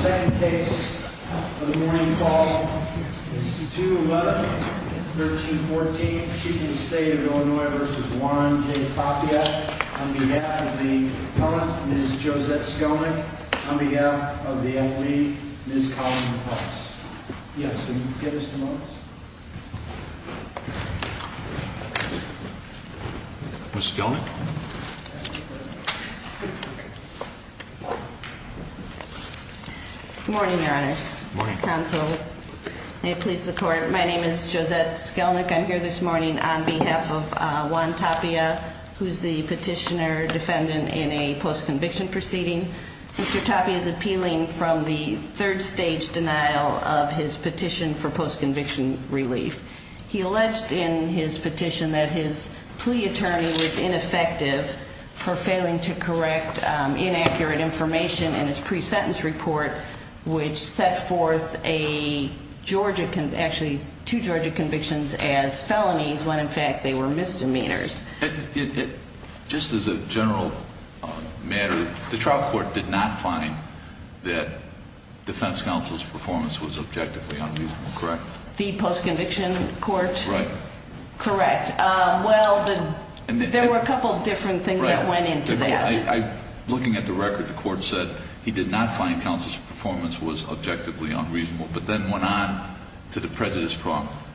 second case of the morning call is 2 11 13 14. She can stay in Illinois versus one. J. Tapia on behalf of the comments is Josette Skelman on behalf of the commission. Good morning, Your Honor's counsel. Please support. My name is Josette Skelnick. I'm here this morning on behalf of one Tapia, who's the petitioner defendant in a post conviction proceeding. Mr Tapia is appealing from the third stage denial of his petition for post conviction relief. He alleged in his petition that his plea attorney was ineffective for failing to correct inaccurate information in his pre sentence report, which set forth a Georgia actually to Georgia convictions as felonies when in fact they were misdemeanors. Just as a general matter, the trial court did not find that defense counsel's performance was objectively unreasonable. Correct. The post conviction court. Correct. Well, there were a couple of different things that went into that. Looking at the record, the court said he did not find counsel's performance was objectively unreasonable, but then went on to the prejudice.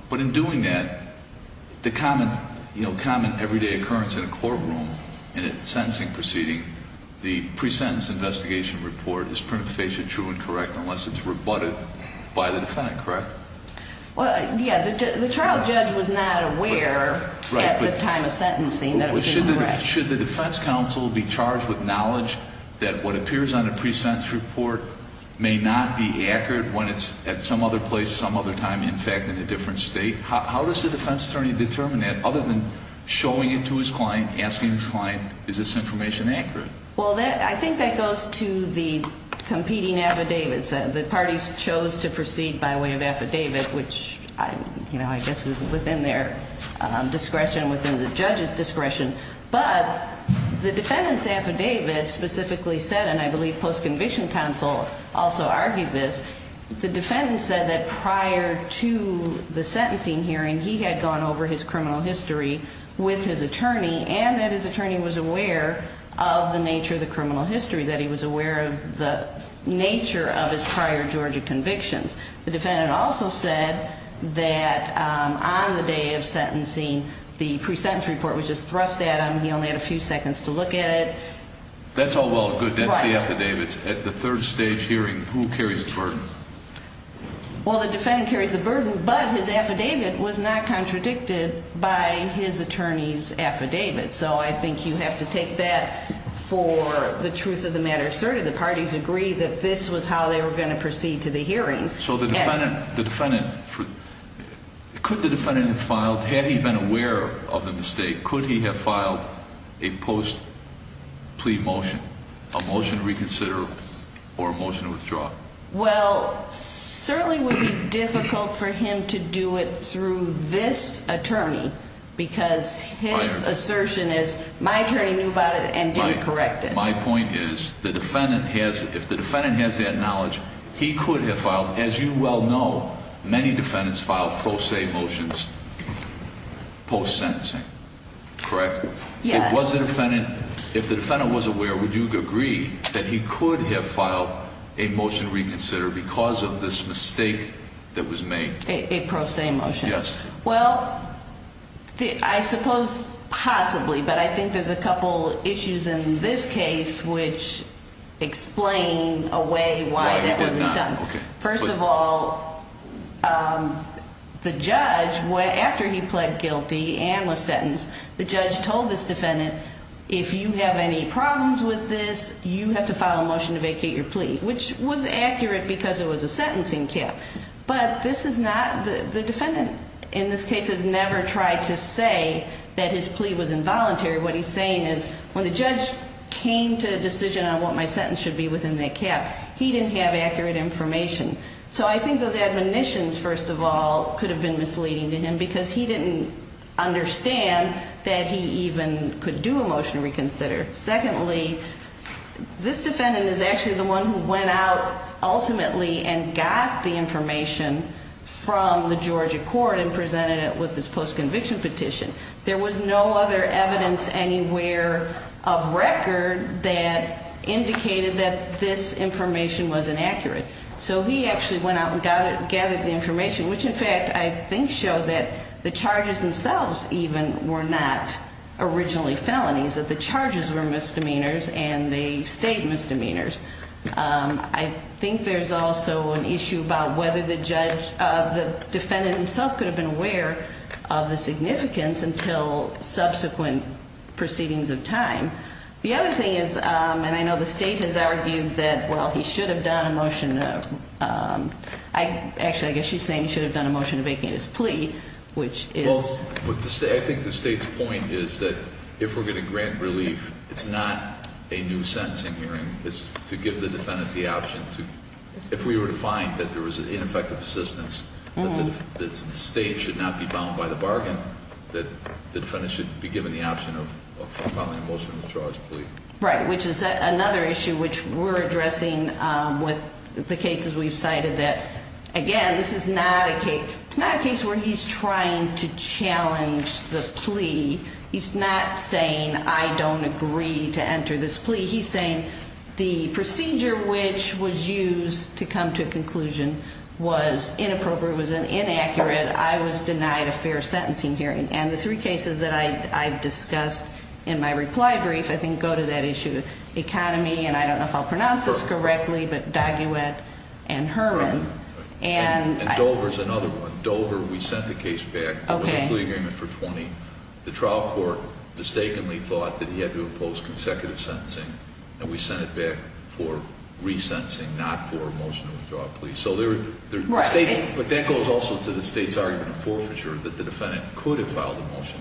But in doing that, the common common everyday occurrence in a courtroom in a different state. How does the defense attorney determine that? Other than showing it to his client, asking his client, is this information accurate? Well, I think that goes to the defendant's affidavit, which I, you know, I guess was within their discretion within the judge's discretion. But the defendant's affidavit specifically said, and I believe post conviction counsel also argued this. The defendant said that prior to the sentencing hearing, he had gone over his criminal history with his attorney and that his attorney was aware of the nature of his prior Georgia convictions. The defendant also said that on the day of sentencing, the pre-sentence report was just thrust at him. He only had a few seconds to look at it. That's all well and good. That's the affidavit. At the third stage hearing, who carries the burden? Well, the defendant carries the burden, but his affidavit was not contradicted by his attorney's affidavit. So I think you have to take that for the truth of the matter asserted. The parties agreed that he did not find counsel's performance was objectively unreasonable, but then went on to the prejudice. How does the defense attorney determine that? Other than showing it to his client, asking his client, is this information accurate? Well, I think that goes to the defendant's affidavit. The defendant said that prior to the sentencing hearing, he had gone over his criminal history with his attorney and that his attorney was aware of the nature of his prior Georgia convictions. The defendant also said that on the day of sentencing, the pre-sentence report was just thrust at him. So I think you have to take that for the truth of the matter asserted. The parties agreed that he did not find counsel's performance was objectively unreasonable, but then went on to the prejudice. So I think you have to take that for the truth of the matter asserted. The defense attorney said that prior to the sentencing hearing, he had gone over his criminal history with his attorney and that his attorney was aware of the nature of his prior Georgia convictions. The parties agreed that this was how they were going to proceed to the hearing. So the defendant, the defendant, could the defendant have filed, had he been aware of the mistake, could he have filed a post plea motion, a motion to reconsider or a motion to withdraw? Well, certainly would be difficult for him to do it through this attorney, because his assertion is, my attorney knew about it and didn't correct it. My point is, the defendant has, if the defendant knew about it and didn't correct it, he would have filed a motion to reconsider. If the defendant has that knowledge, he could have filed, as you well know, many defendants filed pro se motions post sentencing, correct? Yeah. If the defendant was aware, would you agree that he could have filed a motion to reconsider because of this mistake that was made? A pro se motion. Well, I suppose possibly, but I think there's a couple issues in this case, which explain a way why that wasn't done. First of all, the judge, after he pled guilty and was sentenced, the judge told this defendant, if you have any problems with this, you have to file a motion to vacate your plea, which was accurate because it was a sentencing cap. But this is not, the defendant in this case has never tried to say that his plea was involuntary. What he's saying is, when the judge came to a decision on what my sentence should be within that cap, he didn't have accurate information. So I think those admonitions, first of all, could have been misleading to him because he didn't understand that he even could do a motion to reconsider. Secondly, this defendant is actually the one who went out ultimately and got the information from the Georgia court and presented it with his post conviction petition. There was no other evidence anywhere of record that indicated that this information was inaccurate. So he actually went out and gathered the information, which in fact I think showed that the charges themselves even were not originally felonies, that the charges were misdemeanors and they state misdemeanors. I think there's also an issue about whether the defendant himself could have been aware of the significance until subsequent proceedings of time. The other thing is, and I know the state has argued that, well, he should have done a motion. Actually, I guess she's saying he should have done a motion to vacate his plea, which is- Well, I think the state's point is that if we're going to grant relief, it's not a new sentencing hearing. It's to give the defendant the option to, if we were to find that there was ineffective assistance, that the state should not be bound by the bargain. The defendant should be given the option of filing a motion to withdraw his plea. Right, which is another issue which we're addressing with the cases we've cited that. Again, this is not a case where he's trying to challenge the plea. He's not saying I don't agree to enter this plea. He's saying the procedure which was used to come to a conclusion was inappropriate, was inaccurate. I was denied a fair sentencing hearing. And the three cases that I've discussed in my reply brief, I think, go to that issue. Economy, and I don't know if I'll pronounce this correctly, but Daguet and Herman. And Dover's another one. Dover, we sent the case back. It was a plea agreement for 20. The trial court mistakenly thought that he had to impose consecutive sentencing, and we sent it back for resentencing, not for a motion to withdraw a plea. Right. But that goes also to the state's argument of forfeiture, that the defendant could have filed a motion.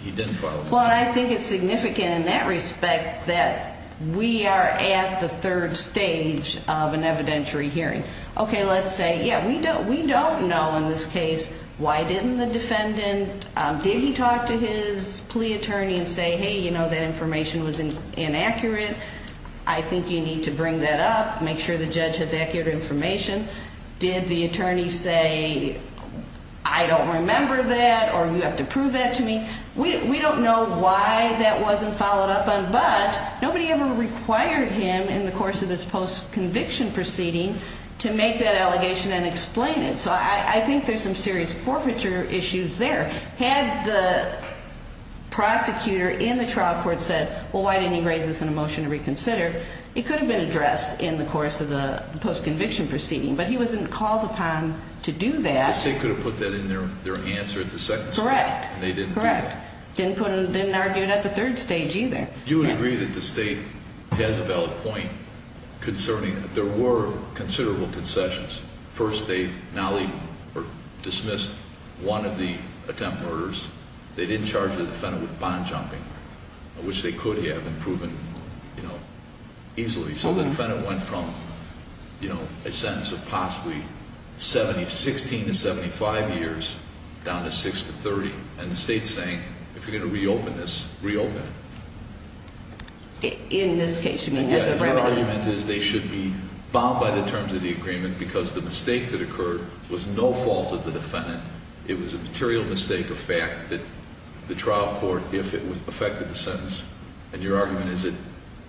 He didn't file a motion. Well, I think it's significant in that respect that we are at the third stage of an evidentiary hearing. Okay, let's say, yeah, we don't know in this case why didn't the defendant, did he talk to his plea attorney and say, hey, you know, that information was inaccurate. I think you need to bring that up, make sure the judge has accurate information. Did the attorney say, I don't remember that, or you have to prove that to me? We don't know why that wasn't followed up on, but nobody ever required him in the course of this post-conviction proceeding to make that allegation and explain it. So I think there's some serious forfeiture issues there. Had the prosecutor in the trial court said, well, why didn't he raise this in a motion to reconsider? It could have been addressed in the course of the post-conviction proceeding, but he wasn't called upon to do that. Yes, they could have put that in their answer at the second stage. Correct. They didn't do that. Correct. Didn't argue it at the third stage either. You would agree that the state has a valid point concerning that there were considerable concessions. First, they dismissed one of the attempt murders. They didn't charge the defendant with bond jumping, which they could have and proven easily. So the defendant went from a sentence of possibly 16 to 75 years down to 6 to 30. And the state's saying, if you're going to reopen this, reopen it. In this case, you mean as a remedy? My argument is they should be bound by the terms of the agreement because the mistake that occurred was no fault of the defendant. It was a material mistake of fact that the trial court, if it affected the sentence. And your argument is that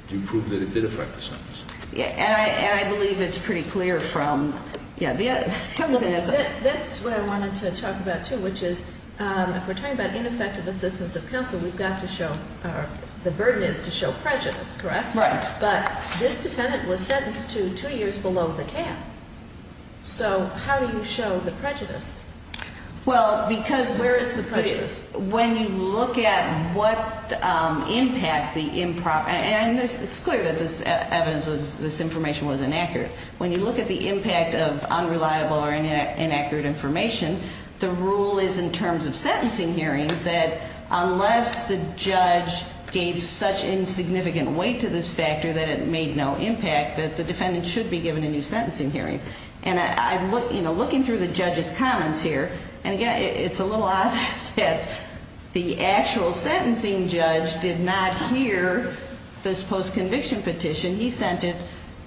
you proved that it did affect the sentence. And I believe it's pretty clear from, yeah, the other thing is. That's what I wanted to talk about too, which is if we're talking about ineffective assistance of counsel, we've got to show, the burden is to show prejudice, correct? Right. But this defendant was sentenced to two years below the cap. So how do you show the prejudice? Well, because. Where is the prejudice? When you look at what impact the improper, and it's clear that this evidence was, this information was inaccurate. When you look at the impact of unreliable or inaccurate information, the rule is in terms of sentencing hearings. That unless the judge gave such insignificant weight to this factor that it made no impact. That the defendant should be given a new sentencing hearing. And I'm looking through the judge's comments here. And again, it's a little odd that the actual sentencing judge did not hear this post conviction petition. He sent it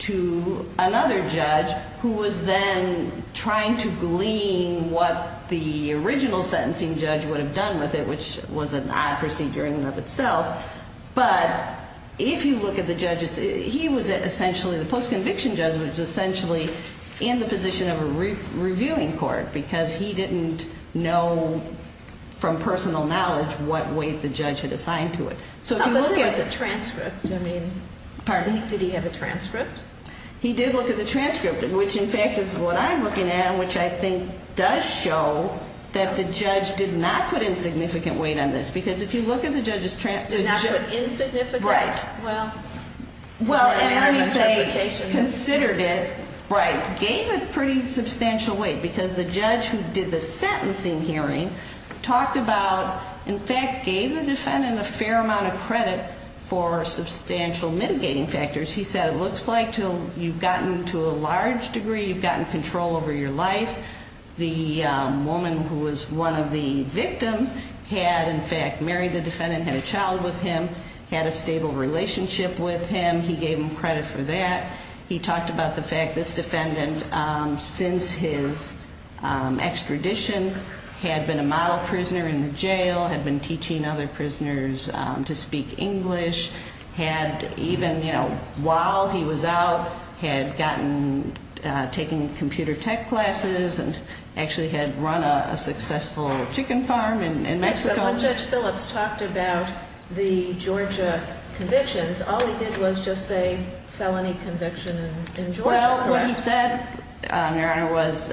to another judge who was then trying to glean what the original sentencing judge would have done with it. Which was an odd procedure in and of itself. But if you look at the judges, he was essentially, the post conviction judge was essentially in the position of a reviewing court. Because he didn't know from personal knowledge what weight the judge had assigned to it. But there was a transcript. Pardon? Did he have a transcript? He did look at the transcript. Which, in fact, is what I'm looking at. Which I think does show that the judge did not put insignificant weight on this. Because if you look at the judge's transcript. Did not put insignificant? Right. Well. Well, and let me say, considered it. Right. Gave it pretty substantial weight. Because the judge who did the sentencing hearing talked about, in fact, gave the defendant a fair amount of credit for substantial mitigating factors. He said it looks like you've gotten, to a large degree, you've gotten control over your life. The woman who was one of the victims had, in fact, married the defendant. Had a child with him. Had a stable relationship with him. He gave him credit for that. He talked about the fact this defendant, since his extradition, had been a model prisoner in jail. Had been teaching other prisoners to speak English. Had even, you know, while he was out, had gotten, taken computer tech classes. And actually had run a successful chicken farm in Mexico. When Judge Phillips talked about the Georgia convictions, all he did was just say felony conviction in Georgia. Well, what he said, Your Honor, was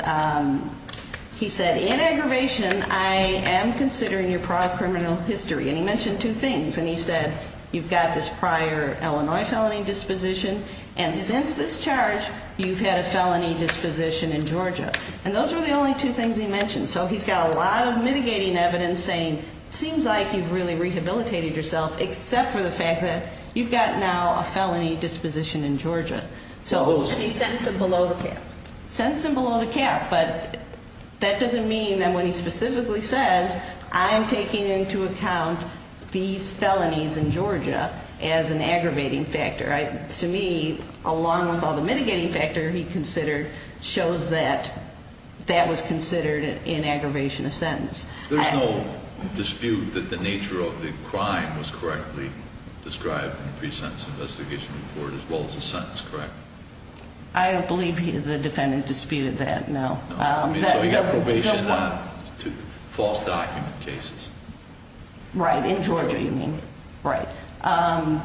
he said, in aggravation, I am considering your prior criminal history. And he mentioned two things. And he said, you've got this prior Illinois felony disposition. And since this charge, you've had a felony disposition in Georgia. And those were the only two things he mentioned. So he's got a lot of mitigating evidence saying, it seems like you've really rehabilitated yourself. Except for the fact that you've got now a felony disposition in Georgia. So he sends them below the cap. Sends them below the cap. But that doesn't mean that when he specifically says, I am taking into account these felonies in Georgia as an aggravating factor. To me, along with all the mitigating factor he considered, shows that that was considered in aggravation of sentence. There's no dispute that the nature of the crime was correctly described in the pre-sentence investigation report as well as the sentence, correct? I don't believe the defendant disputed that, no. So he got probation to false document cases. Right, in Georgia, you mean. Right.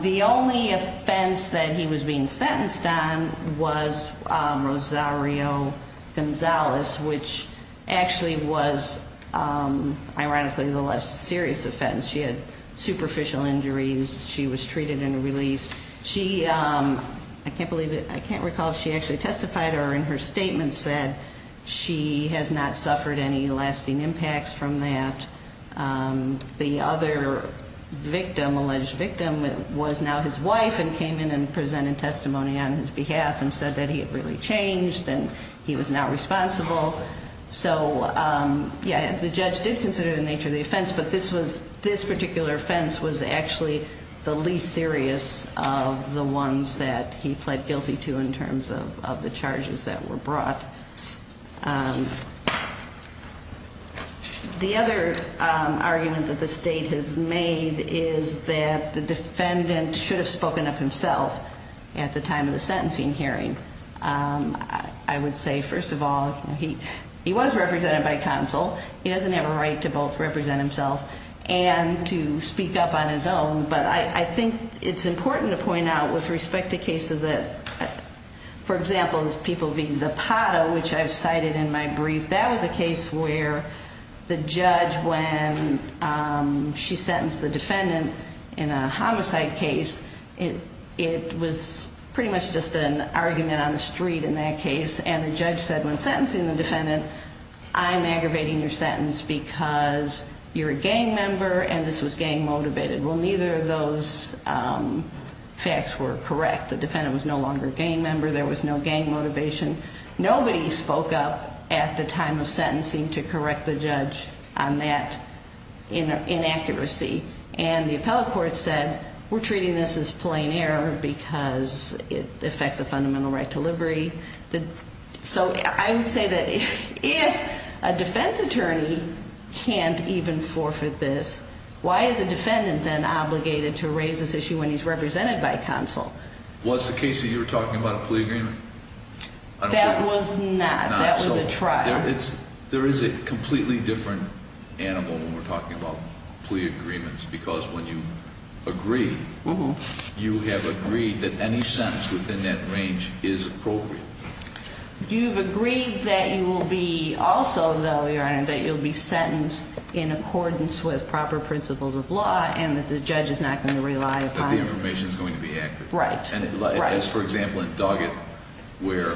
The only offense that he was being sentenced on was Rosario Gonzalez, which actually was, ironically, the less serious offense. She had superficial injuries. She was treated and released. I can't recall if she actually testified or in her statement said she has not suffered any lasting impacts from that. The other victim, alleged victim, was now his wife and came in and presented testimony on his behalf and said that he had really changed and he was now responsible. So yeah, the judge did consider the nature of the offense, but this particular offense was actually the least serious of the ones that he pled guilty to in terms of the charges that were brought. The other argument that the state has made is that the defendant should have spoken up himself at the time of the sentencing hearing. I would say, first of all, he was represented by counsel. He doesn't have a right to both represent himself and to speak up on his own. But I think it's important to point out with respect to cases that, for example, people v. Zapata, which I've cited in my brief, that was a case where the judge, when she sentenced the defendant in a homicide case, it was pretty much just an argument on the street in that case. And the judge said, when sentencing the defendant, I'm aggravating your sentence because you're a gang member and this was gang motivated. Well, neither of those facts were correct. The defendant was no longer a gang member. There was no gang motivation. Nobody spoke up at the time of sentencing to correct the judge on that inaccuracy. And the appellate court said, we're treating this as plain error because it affects the fundamental right to liberty. So I would say that if a defense attorney can't even forfeit this, why is a defendant then obligated to raise this issue when he's represented by counsel? Was the case that you were talking about a plea agreement? That was not. That was a trial. There is a completely different animal when we're talking about plea agreements. Because when you agree, you have agreed that any sentence within that range is appropriate. You've agreed that you will be also, though, Your Honor, that you'll be sentenced in accordance with proper principles of law and that the judge is not going to rely upon it. The information is going to be accurate. Right. As, for example, in Doggett, where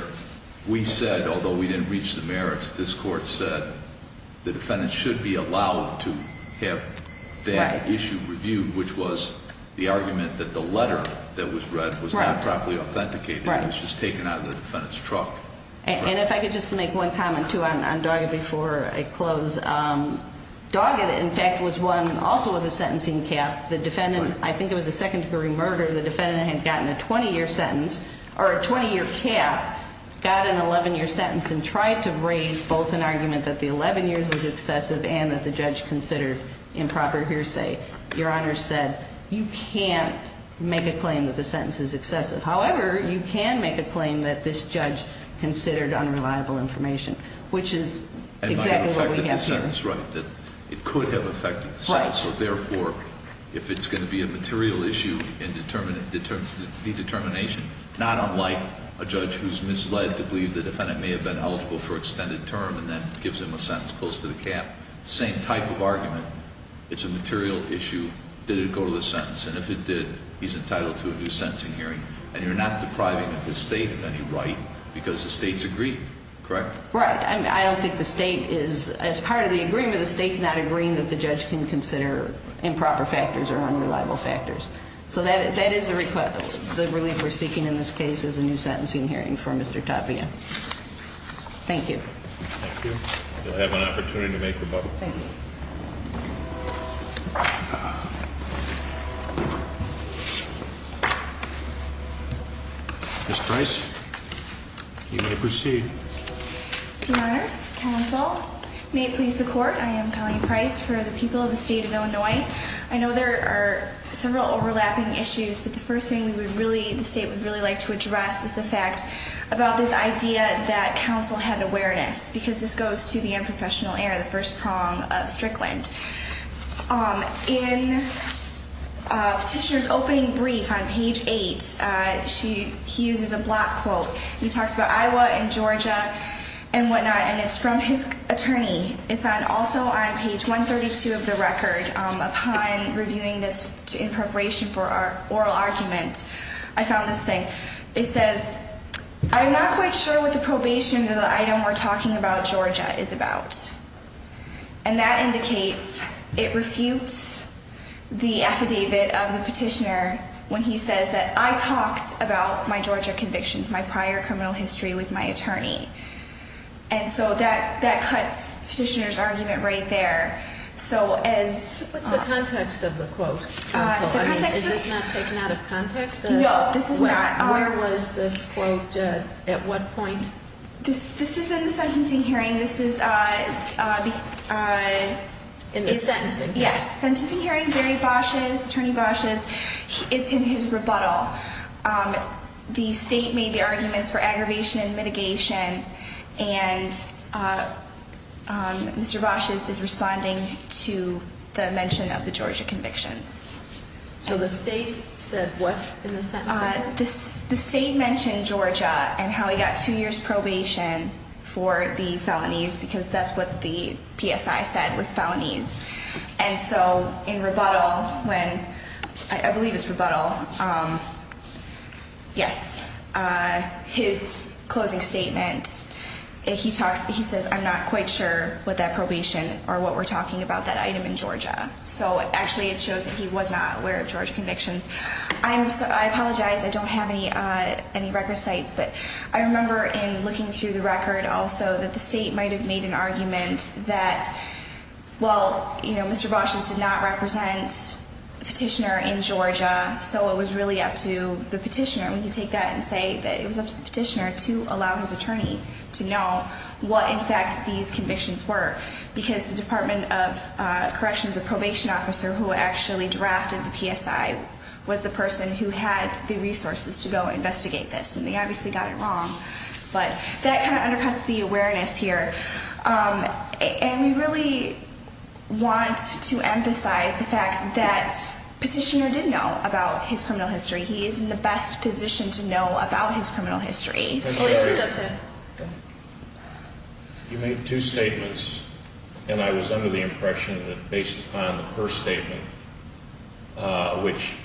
we said, although we didn't reach the merits, this court said the defendant should be allowed to have that issue reviewed, which was the argument that the letter that was read was not properly authenticated. It was just taken out of the defendant's truck. And if I could just make one comment, too, on Doggett before I close. Doggett, in fact, was one also with a sentencing cap. The defendant, I think it was a second-degree murder. The defendant had gotten a 20-year sentence, or a 20-year cap, got an 11-year sentence and tried to raise both an argument that the 11 years was excessive and that the judge considered improper hearsay. Your Honor said, you can't make a claim that the sentence is excessive. However, you can make a claim that this judge considered unreliable information, which is exactly what we have here. And I think that's right, that it could have affected the sentence. So, therefore, if it's going to be a material issue in the determination, not unlike a judge who's misled to believe the defendant may have been eligible for extended term and then gives him a sentence close to the cap, same type of argument. It's a material issue. Did it go to the sentence? And if it did, he's entitled to a new sentencing hearing. And you're not depriving the State of any right because the State's agreed, correct? Right. I don't think the State is, as part of the agreement, the State's not agreeing that the judge can consider improper factors or unreliable factors. So that is the relief we're seeking in this case is a new sentencing hearing for Mr. Tapia. Thank you. Thank you. You'll have an opportunity to make rebuttal. Thank you. Ms. Price, you may proceed. Your Honors, Counsel, may it please the Court. I am Colleen Price for the people of the State of Illinois. I know there are several overlapping issues, but the first thing the State would really like to address is the fact about this idea that counsel had awareness, because this goes to the unprofessional era, the first prong of Strickland. In Petitioner's opening brief on page 8, he uses a block quote. He talks about Iowa and Georgia and whatnot, and it's from his attorney. It's also on page 132 of the record. Upon reviewing this in preparation for our oral argument, I found this thing. It says, I'm not quite sure what the probation of the item we're talking about Georgia is about. And that indicates it refutes the affidavit of the petitioner when he says that I talked about my Georgia convictions, my prior criminal history with my attorney. And so that cuts Petitioner's argument right there. What's the context of the quote, Counsel? Is this not taken out of context? No, this is not. Where was this quote at what point? This is in the sentencing hearing. This is in the sentencing hearing. Yes, sentencing hearing. It's in Barry Bosch's, Attorney Bosch's. It's in his rebuttal. The state made the arguments for aggravation and mitigation, and Mr. Bosch is responding to the mention of the Georgia convictions. So the state said what in the sentencing? The state mentioned Georgia and how he got two years probation for the felonies because that's what the PSI said was felonies. And so in rebuttal when, I believe it's rebuttal, yes, his closing statement, he says I'm not quite sure what that probation or what we're talking about that item in Georgia. So actually it shows that he was not aware of Georgia convictions. I apologize. I don't have any record sites, but I remember in looking through the record also that the state might have made an argument that, well, you know, Mr. Bosch just did not represent the petitioner in Georgia, so it was really up to the petitioner. We can take that and say that it was up to the petitioner to allow his attorney to know what, in fact, these convictions were because the Department of Corrections, the probation officer who actually drafted the PSI, was the person who had the resources to go investigate this. And they obviously got it wrong, but that kind of undercuts the awareness here. And we really want to emphasize the fact that petitioner did know about his criminal history. He is in the best position to know about his criminal history. You made two statements, and I was under the impression that based upon the first statement, which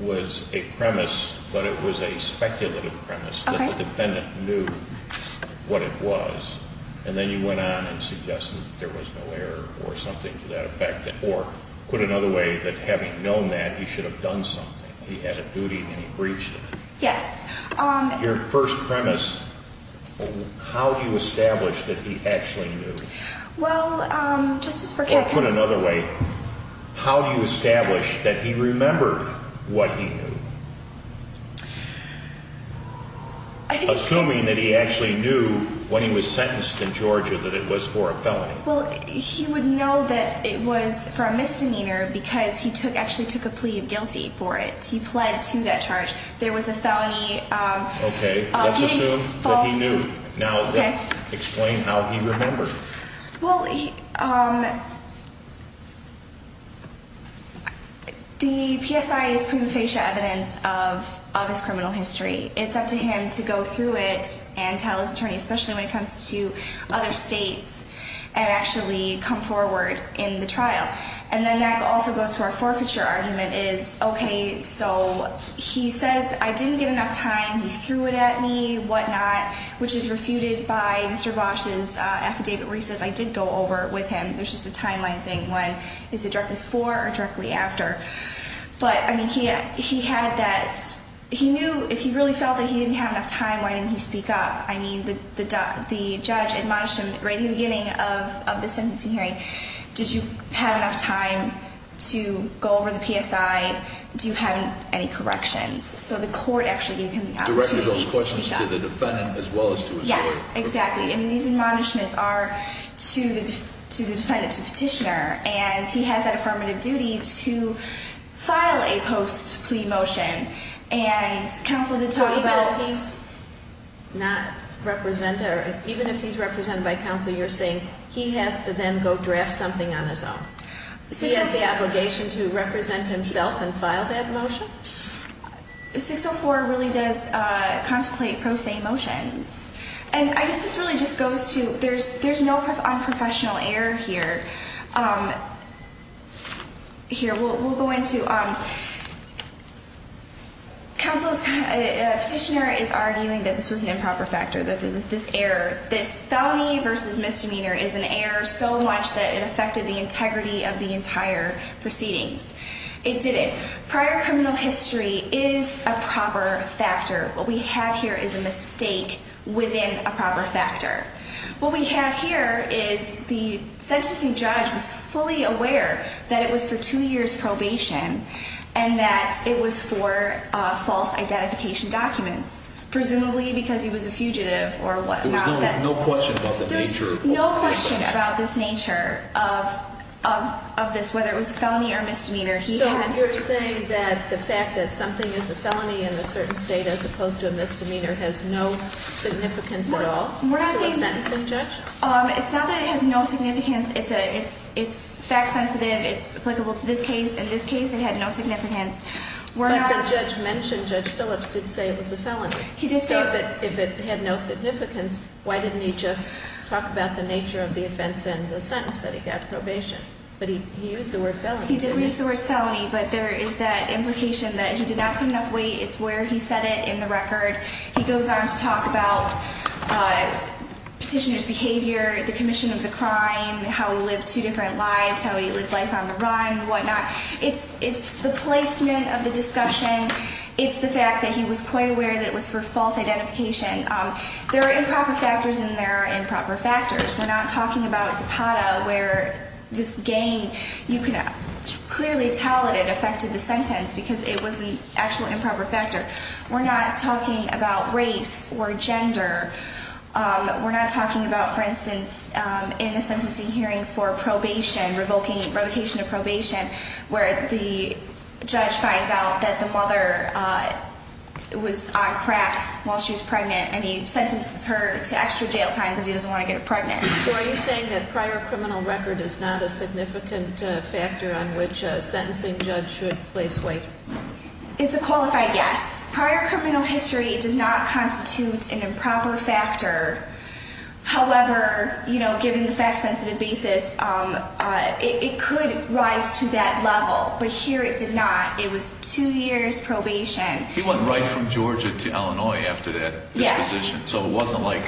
was a premise, but it was a speculative premise that the defendant knew what it was, and then you went on and suggested that there was no error or something to that effect, or put another way, that having known that, he should have done something. He had a duty, and he breached it. Yes. Your first premise, how do you establish that he actually knew? Well, Justice Bercow- You put it another way. How do you establish that he remembered what he knew? Assuming that he actually knew when he was sentenced in Georgia that it was for a felony. Well, he would know that it was for a misdemeanor because he actually took a plea of guilty for it. He pled to that charge. There was a felony. Okay, let's assume that he knew. Now explain how he remembered. Well, the PSI is prima facie evidence of his criminal history. It's up to him to go through it and tell his attorney, especially when it comes to other states, and actually come forward in the trial. And then that also goes to our forfeiture argument is, okay, so he says, I didn't get enough time. He threw it at me, whatnot, which is refuted by Mr. Bosch's affidavit where he says, I did go over with him. There's just a timeline thing when is it directly before or directly after? But, I mean, he had that. He knew if he really felt that he didn't have enough time, why didn't he speak up? I mean, the judge admonished him right in the beginning of the sentencing hearing. Did you have enough time to go over the PSI? Do you have any corrections? So the court actually gave him the opportunity to speak up. Directed those questions to the defendant as well as to his lawyer. Yes, exactly. And these admonishments are to the defendant, to the petitioner, and he has that affirmative duty to file a post-plea motion. And counsel did talk about it. So even if he's not represented or even if he's represented by counsel, you're saying he has to then go draft something on his own? He has the obligation to represent himself and file that motion? 604 really does contemplate pro se motions. And I guess this really just goes to there's no unprofessional error here. Here, we'll go into counsel's petitioner is arguing that this was an improper factor, that this error, this felony versus misdemeanor is an error so much that it affected the integrity of the entire proceedings. It didn't. Prior criminal history is a proper factor. What we have here is a mistake within a proper factor. What we have here is the sentencing judge was fully aware that it was for two years probation and that it was for false identification documents, presumably because he was a fugitive or whatnot. There's no question about the nature of this, whether it was a felony or misdemeanor. So you're saying that the fact that something is a felony in a certain state as opposed to a misdemeanor has no significance at all to a sentencing judge? It's not that it has no significance. It's fact sensitive. It's applicable to this case. In this case, it had no significance. But the judge mentioned Judge Phillips did say it was a felony. He did say that. So if it had no significance, why didn't he just talk about the nature of the offense and the sentence that he got probation? But he used the word felony. He did use the word felony, but there is that implication that he did not put enough weight. It's where he said it in the record. He goes on to talk about petitioner's behavior, the commission of the crime, how he lived two different lives, how he lived life on the run and whatnot. It's the placement of the discussion. It's the fact that he was quite aware that it was for false identification. There are improper factors, and there are improper factors. We're not talking about Zapata where this gang, you can clearly tell that it affected the sentence because it was an actual improper factor. We're not talking about race or gender. We're not talking about, for instance, in the sentencing hearing for probation, revocation of probation where the judge finds out that the mother was on crack while she was pregnant and he sentences her to extra jail time because he doesn't want to get her pregnant. So are you saying that prior criminal record is not a significant factor on which a sentencing judge should place weight? It's a qualified yes. Prior criminal history does not constitute an improper factor. However, given the fact-sensitive basis, it could rise to that level, but here it did not. It was two years probation. He went right from Georgia to Illinois after that disposition. So it wasn't like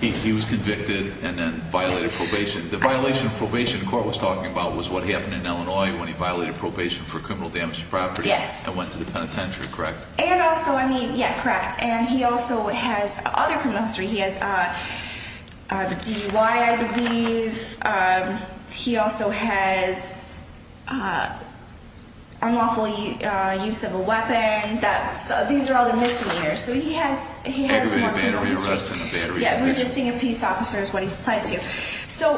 he was convicted and then violated probation. The violation of probation the court was talking about was what happened in Illinois when he violated probation for criminal damage to property and went to the penitentiary, correct? And also, I mean, yeah, correct. And he also has other criminal history. He has DUI, I believe. He also has unlawful use of a weapon. These are all the misdemeanors. So he has more criminal history. Battery arrest and a battery arrest. Yeah, resisting a peace officer is what he's pled to. So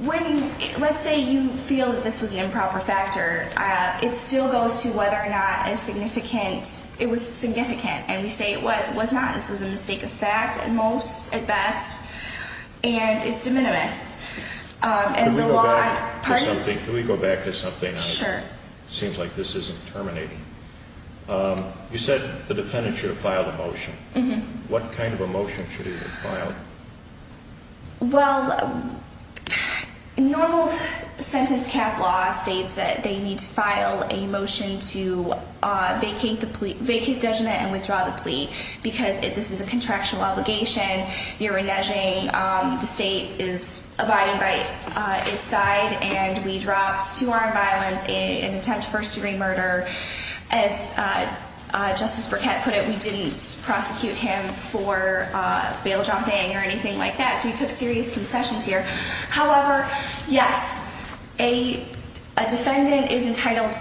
when, let's say, you feel that this was the improper factor, it still goes to whether or not it was significant. And we say it was not. This was a mistake of fact at most, at best, and it's de minimis. Can we go back to something? Sure. Seems like this isn't terminating. You said the defendant should have filed a motion. What kind of a motion should he have filed? Well, normal sentence cap law states that they need to file a motion to vacate judgment and withdraw the plea because this is a contractual obligation. You're reneging. The state is abiding by its side, and we dropped two armed violents in an attempt to first degree murder. As Justice Burkett put it, we didn't prosecute him for bail-jumping or anything like that. So we took serious concessions here. However, yes, a defendant is entitled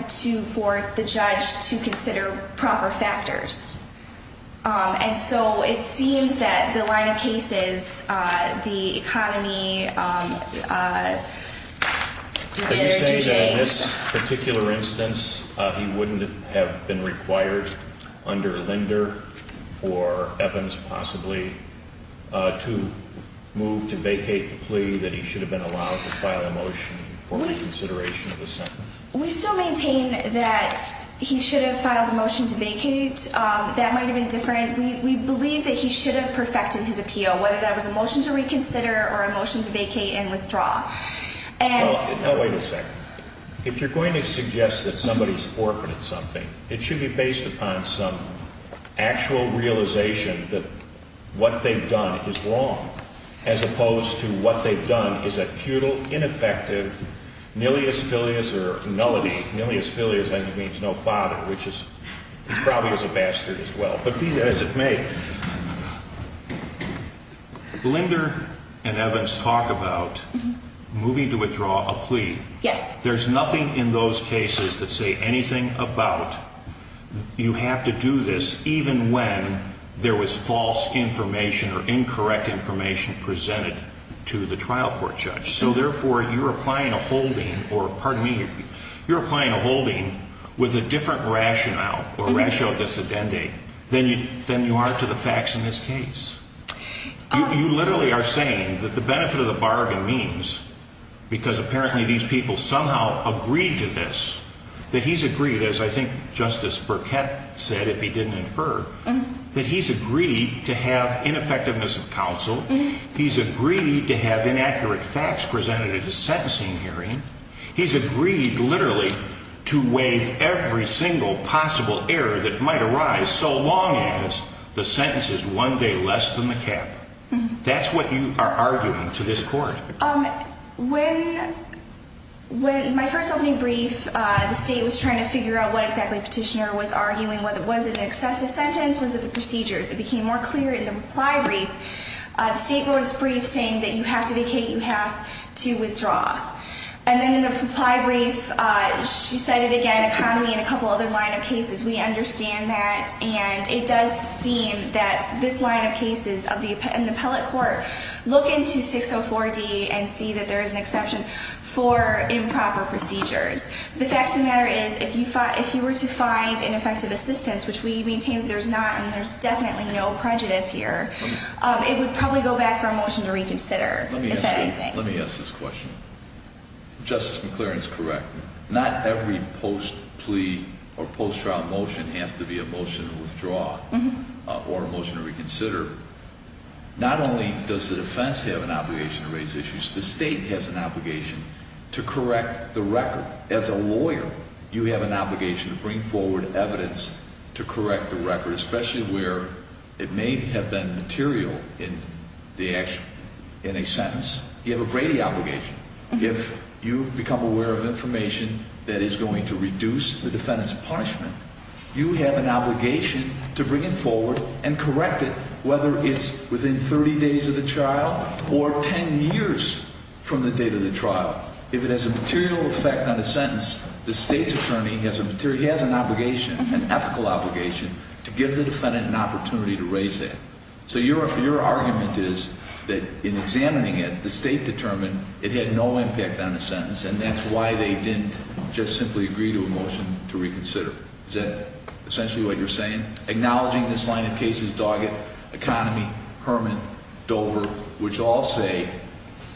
for the judge to consider proper factors. And so it seems that the line of cases, the economy, divider, due date. You said in this particular instance he wouldn't have been required under Linder or Evans possibly to move to vacate the plea, that he should have been allowed to file a motion for reconsideration of the sentence. We still maintain that he should have filed a motion to vacate. That might have been different. We believe that he should have perfected his appeal, whether that was a motion to reconsider or a motion to vacate and withdraw. Wait a second. If you're going to suggest that somebody's forfeited something, it should be based upon some actual realization that what they've done is wrong, as opposed to what they've done is a futile, ineffective, nilius filius or nullity. Nilius filius means no father, which probably is a bastard as well. But be that as it may. Linder and Evans talk about moving to withdraw a plea. Yes. There's nothing in those cases that say anything about you have to do this, even when there was false information or incorrect information presented to the trial court judge. So, therefore, you're applying a holding or, pardon me, you're applying a holding with a different rationale or ratio dissidenti than you are to the facts in this case. You literally are saying that the benefit of the bargain means, because apparently these people somehow agreed to this, that he's agreed, as I think Justice Burkett said, if he didn't infer, he's agreed to have inaccurate facts presented at the sentencing hearing. He's agreed, literally, to waive every single possible error that might arise, so long as the sentence is one day less than the cap. That's what you are arguing to this court. When my first opening brief, the state was trying to figure out what exactly Petitioner was arguing, whether it was an excessive sentence, was it the procedures. It became more clear in the reply brief. The state board's brief saying that you have to vacate, you have to withdraw. And then in the reply brief, she cited, again, economy and a couple other line of cases. We understand that, and it does seem that this line of cases in the appellate court look into 604D and see that there is an exception for improper procedures. The fact of the matter is, if you were to find ineffective assistance, which we maintain that there's not and there's definitely no prejudice here, it would probably go back for a motion to reconsider, if that anything. Let me ask this question. Justice McClaren is correct. Not every post-plea or post-trial motion has to be a motion to withdraw or a motion to reconsider. Not only does the defense have an obligation to raise issues, the state has an obligation to correct the record. As a lawyer, you have an obligation to bring forward evidence to correct the record, especially where it may have been material in a sentence. You have a Brady obligation. If you become aware of information that is going to reduce the defendant's punishment, you have an obligation to bring it forward and correct it, whether it's within 30 days of the trial or 10 years from the date of the trial. If it has a material effect on a sentence, the state's attorney has an obligation, an ethical obligation, to give the defendant an opportunity to raise that. So your argument is that in examining it, the state determined it had no impact on the sentence, and that's why they didn't just simply agree to a motion to reconsider. Is that essentially what you're saying? Acknowledging this line of cases, Doggett, Economy, Herman, Dover, which all say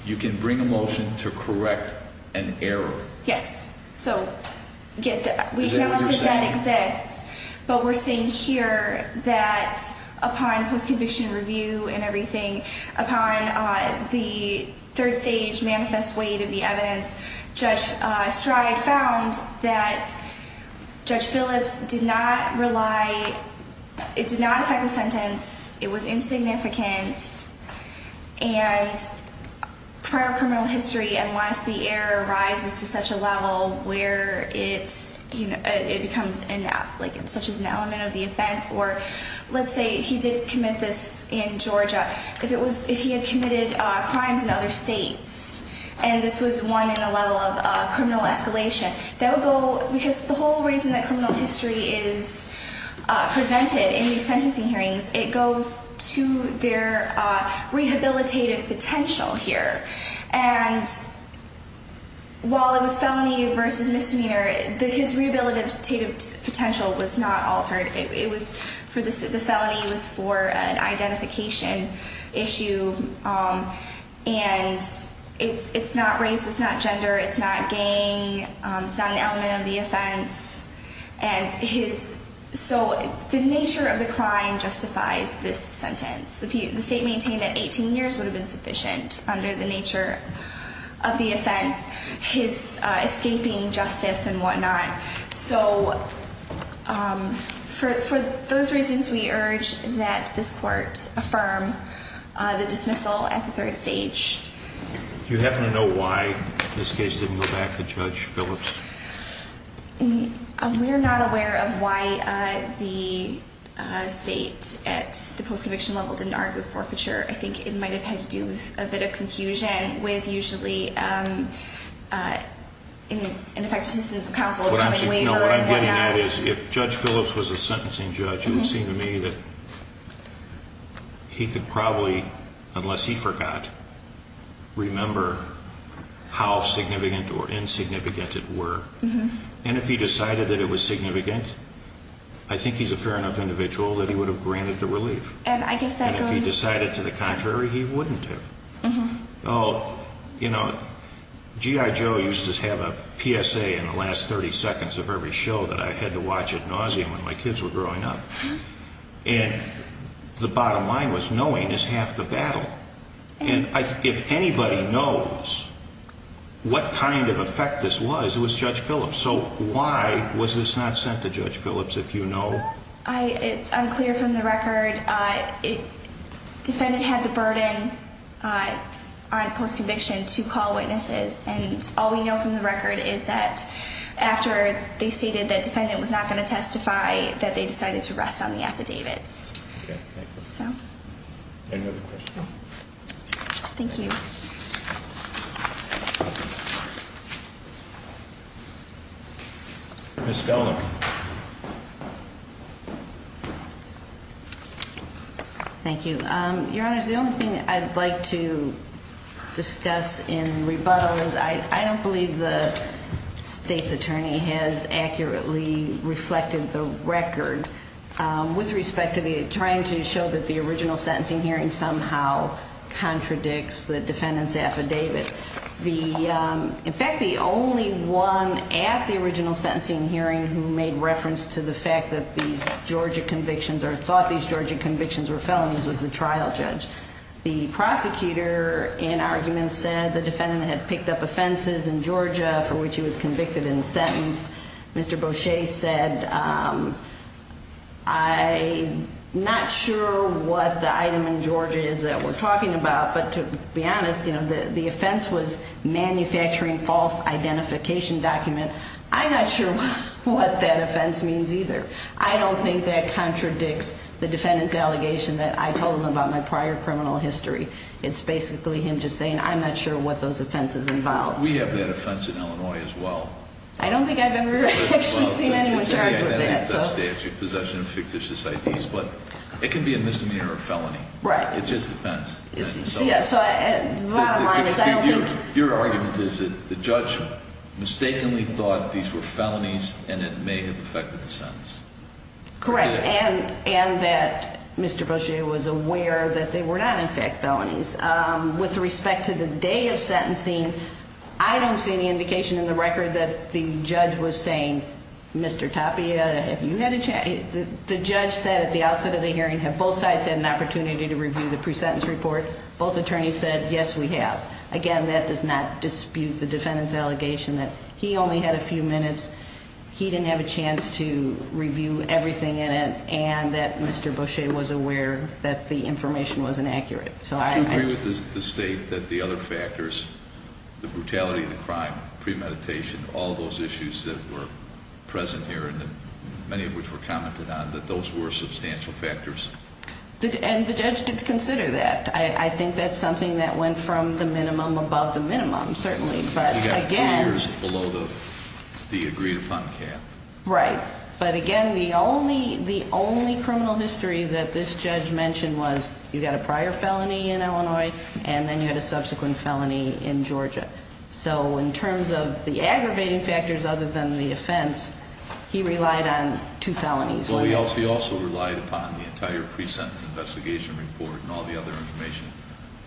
you can bring a motion to correct an error. Yes. So we acknowledge that that exists. But we're saying here that upon post-conviction review and everything, upon the third stage manifest weight of the evidence, Judge Stride found that Judge Phillips did not rely, it did not affect the sentence, it was insignificant, and prior criminal history, unless the error rises to such a level where it becomes such an element of the offense, or let's say he did commit this in Georgia, if he had committed crimes in other states and this was one in a level of criminal escalation, that would go, because the whole reason that criminal history is presented in these sentencing hearings, it goes to their rehabilitative potential here. And while it was felony versus misdemeanor, his rehabilitative potential was not altered. The felony was for an identification issue. And it's not race, it's not gender, it's not gang, it's not an element of the offense. And so the nature of the crime justifies this sentence. The state maintained that 18 years would have been sufficient under the nature of the offense, his escaping justice and whatnot. So for those reasons, we urge that this court affirm the dismissal at the third stage. Do you happen to know why this case didn't go back to Judge Phillips? We're not aware of why the state at the post-conviction level didn't argue forfeiture. I think it might have had to do with a bit of confusion with usually ineffective assistance of counsel. What I'm getting at is if Judge Phillips was a sentencing judge, it would seem to me that he could probably, unless he forgot, remember how significant or insignificant it were. And if he decided that it was significant, I think he's a fair enough individual that he would have granted the relief. And if he decided to the contrary, he wouldn't have. You know, G.I. Joe used to have a PSA in the last 30 seconds of every show that I had to watch at nauseam when my kids were growing up. And the bottom line was knowing is half the battle. And if anybody knows what kind of effect this was, it was Judge Phillips. So why was this not sent to Judge Phillips, if you know? It's unclear from the record. Defendant had the burden on post-conviction to call witnesses. And all we know from the record is that after they stated that defendant was not going to testify, that they decided to rest on the affidavits. Okay, thank you. So. Any other questions? No. Thank you. Ms. Stelner. Thank you. Your Honor, the only thing I'd like to discuss in rebuttal is I don't believe the state's attorney has accurately reflected the record. With respect to trying to show that the original sentencing hearing somehow contradicts the defendant's affidavit. In fact, the only one at the original sentencing hearing who made reference to the fact that these Georgia convictions or thought these Georgia convictions were felonies was the trial judge. The prosecutor in argument said the defendant had picked up offenses in Georgia for which he was convicted in the sentence. Mr. Beauchesne said, I'm not sure what the item in Georgia is that we're talking about. But to be honest, you know, the offense was manufacturing false identification document. I'm not sure what that offense means either. I don't think that contradicts the defendant's allegation that I told him about my prior criminal history. It's basically him just saying, I'm not sure what those offenses involve. We have that offense in Illinois as well. I don't think I've ever actually seen anyone charge with that. It can be a misdemeanor or felony. Right. It just depends. Yes. Bottom line is I don't think. Your argument is that the judge mistakenly thought these were felonies and it may have affected the sentence. Correct. And that Mr. Beauchesne was aware that they were not in fact felonies. With respect to the day of sentencing, I don't see any indication in the record that the judge was saying, Mr. Tapia, the judge said at the outset of the hearing, have both sides had an opportunity to review the pre-sentence report? Both attorneys said, yes, we have. Again, that does not dispute the defendant's allegation that he only had a few minutes. He didn't have a chance to review everything in it and that Mr. Beauchesne was aware that the information was inaccurate. Do you agree with the state that the other factors, the brutality of the crime, premeditation, all those issues that were present here and many of which were commented on, that those were substantial factors? And the judge did consider that. I think that's something that went from the minimum above the minimum, certainly. But again. You got three years below the agreed upon cap. Right. But again, the only criminal history that this judge mentioned was you got a prior felony in Illinois, and then you had a subsequent felony in Georgia. So in terms of the aggravating factors other than the offense, he relied on two felonies. Well, he also relied upon the entire pre-sentence investigation report and all the other information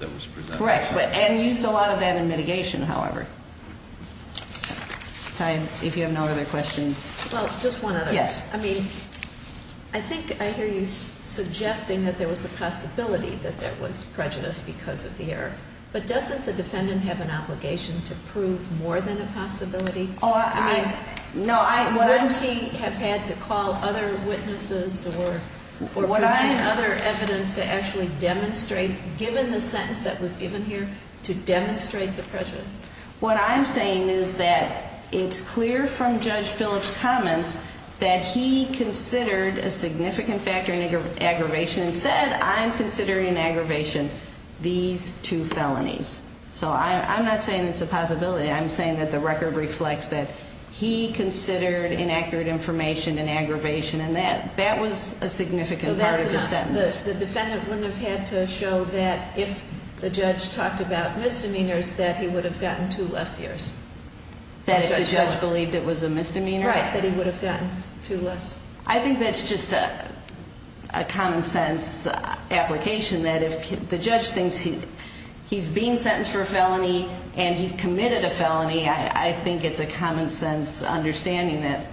that was presented. Correct. And used a lot of that in mitigation, however. Ty, if you have no other questions. Well, just one other. Yes. I mean, I think I hear you suggesting that there was a possibility that there was prejudice because of the error. But doesn't the defendant have an obligation to prove more than a possibility? I mean, wouldn't he have had to call other witnesses or present other evidence to actually demonstrate, given the sentence that was given here, to demonstrate the prejudice? What I'm saying is that it's clear from Judge Phillips' comments that he considered a significant factor in aggravation and said, I'm considering in aggravation these two felonies. So I'm not saying it's a possibility. I'm saying that the record reflects that he considered inaccurate information in aggravation. And that was a significant part of the sentence. The defendant wouldn't have had to show that if the judge talked about misdemeanors, that he would have gotten two less years. That if the judge believed it was a misdemeanor? Right, that he would have gotten two less. I think that's just a common-sense application, that if the judge thinks he's being sentenced for a felony and he's committed a felony, I think it's a common-sense understanding that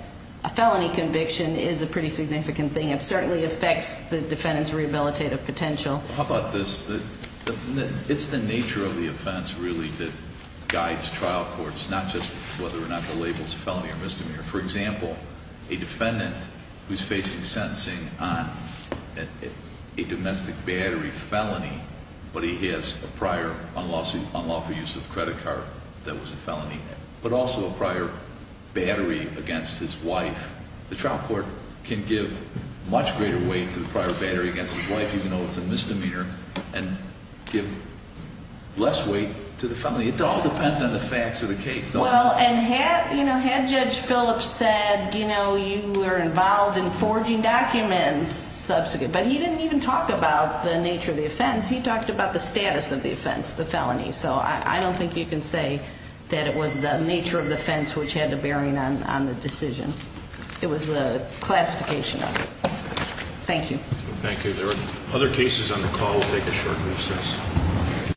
a felony conviction is a pretty significant thing. It certainly affects the defendant's rehabilitative potential. How about this? It's the nature of the offense, really, that guides trial courts, not just whether or not the label's a felony or misdemeanor. For example, a defendant who's facing sentencing on a domestic battery felony, but he has a prior unlawful use of credit card that was a felony, but also a prior battery against his wife, the trial court can give much greater weight to the prior battery against his wife even though it's a misdemeanor and give less weight to the felony. It all depends on the facts of the case. Well, and had Judge Phillips said, you know, you were involved in forging documents, but he didn't even talk about the nature of the offense. So I don't think you can say that it was the nature of the offense which had a bearing on the decision. It was the classification of it. Thank you. Thank you. There are other cases on the call. We'll take a short recess.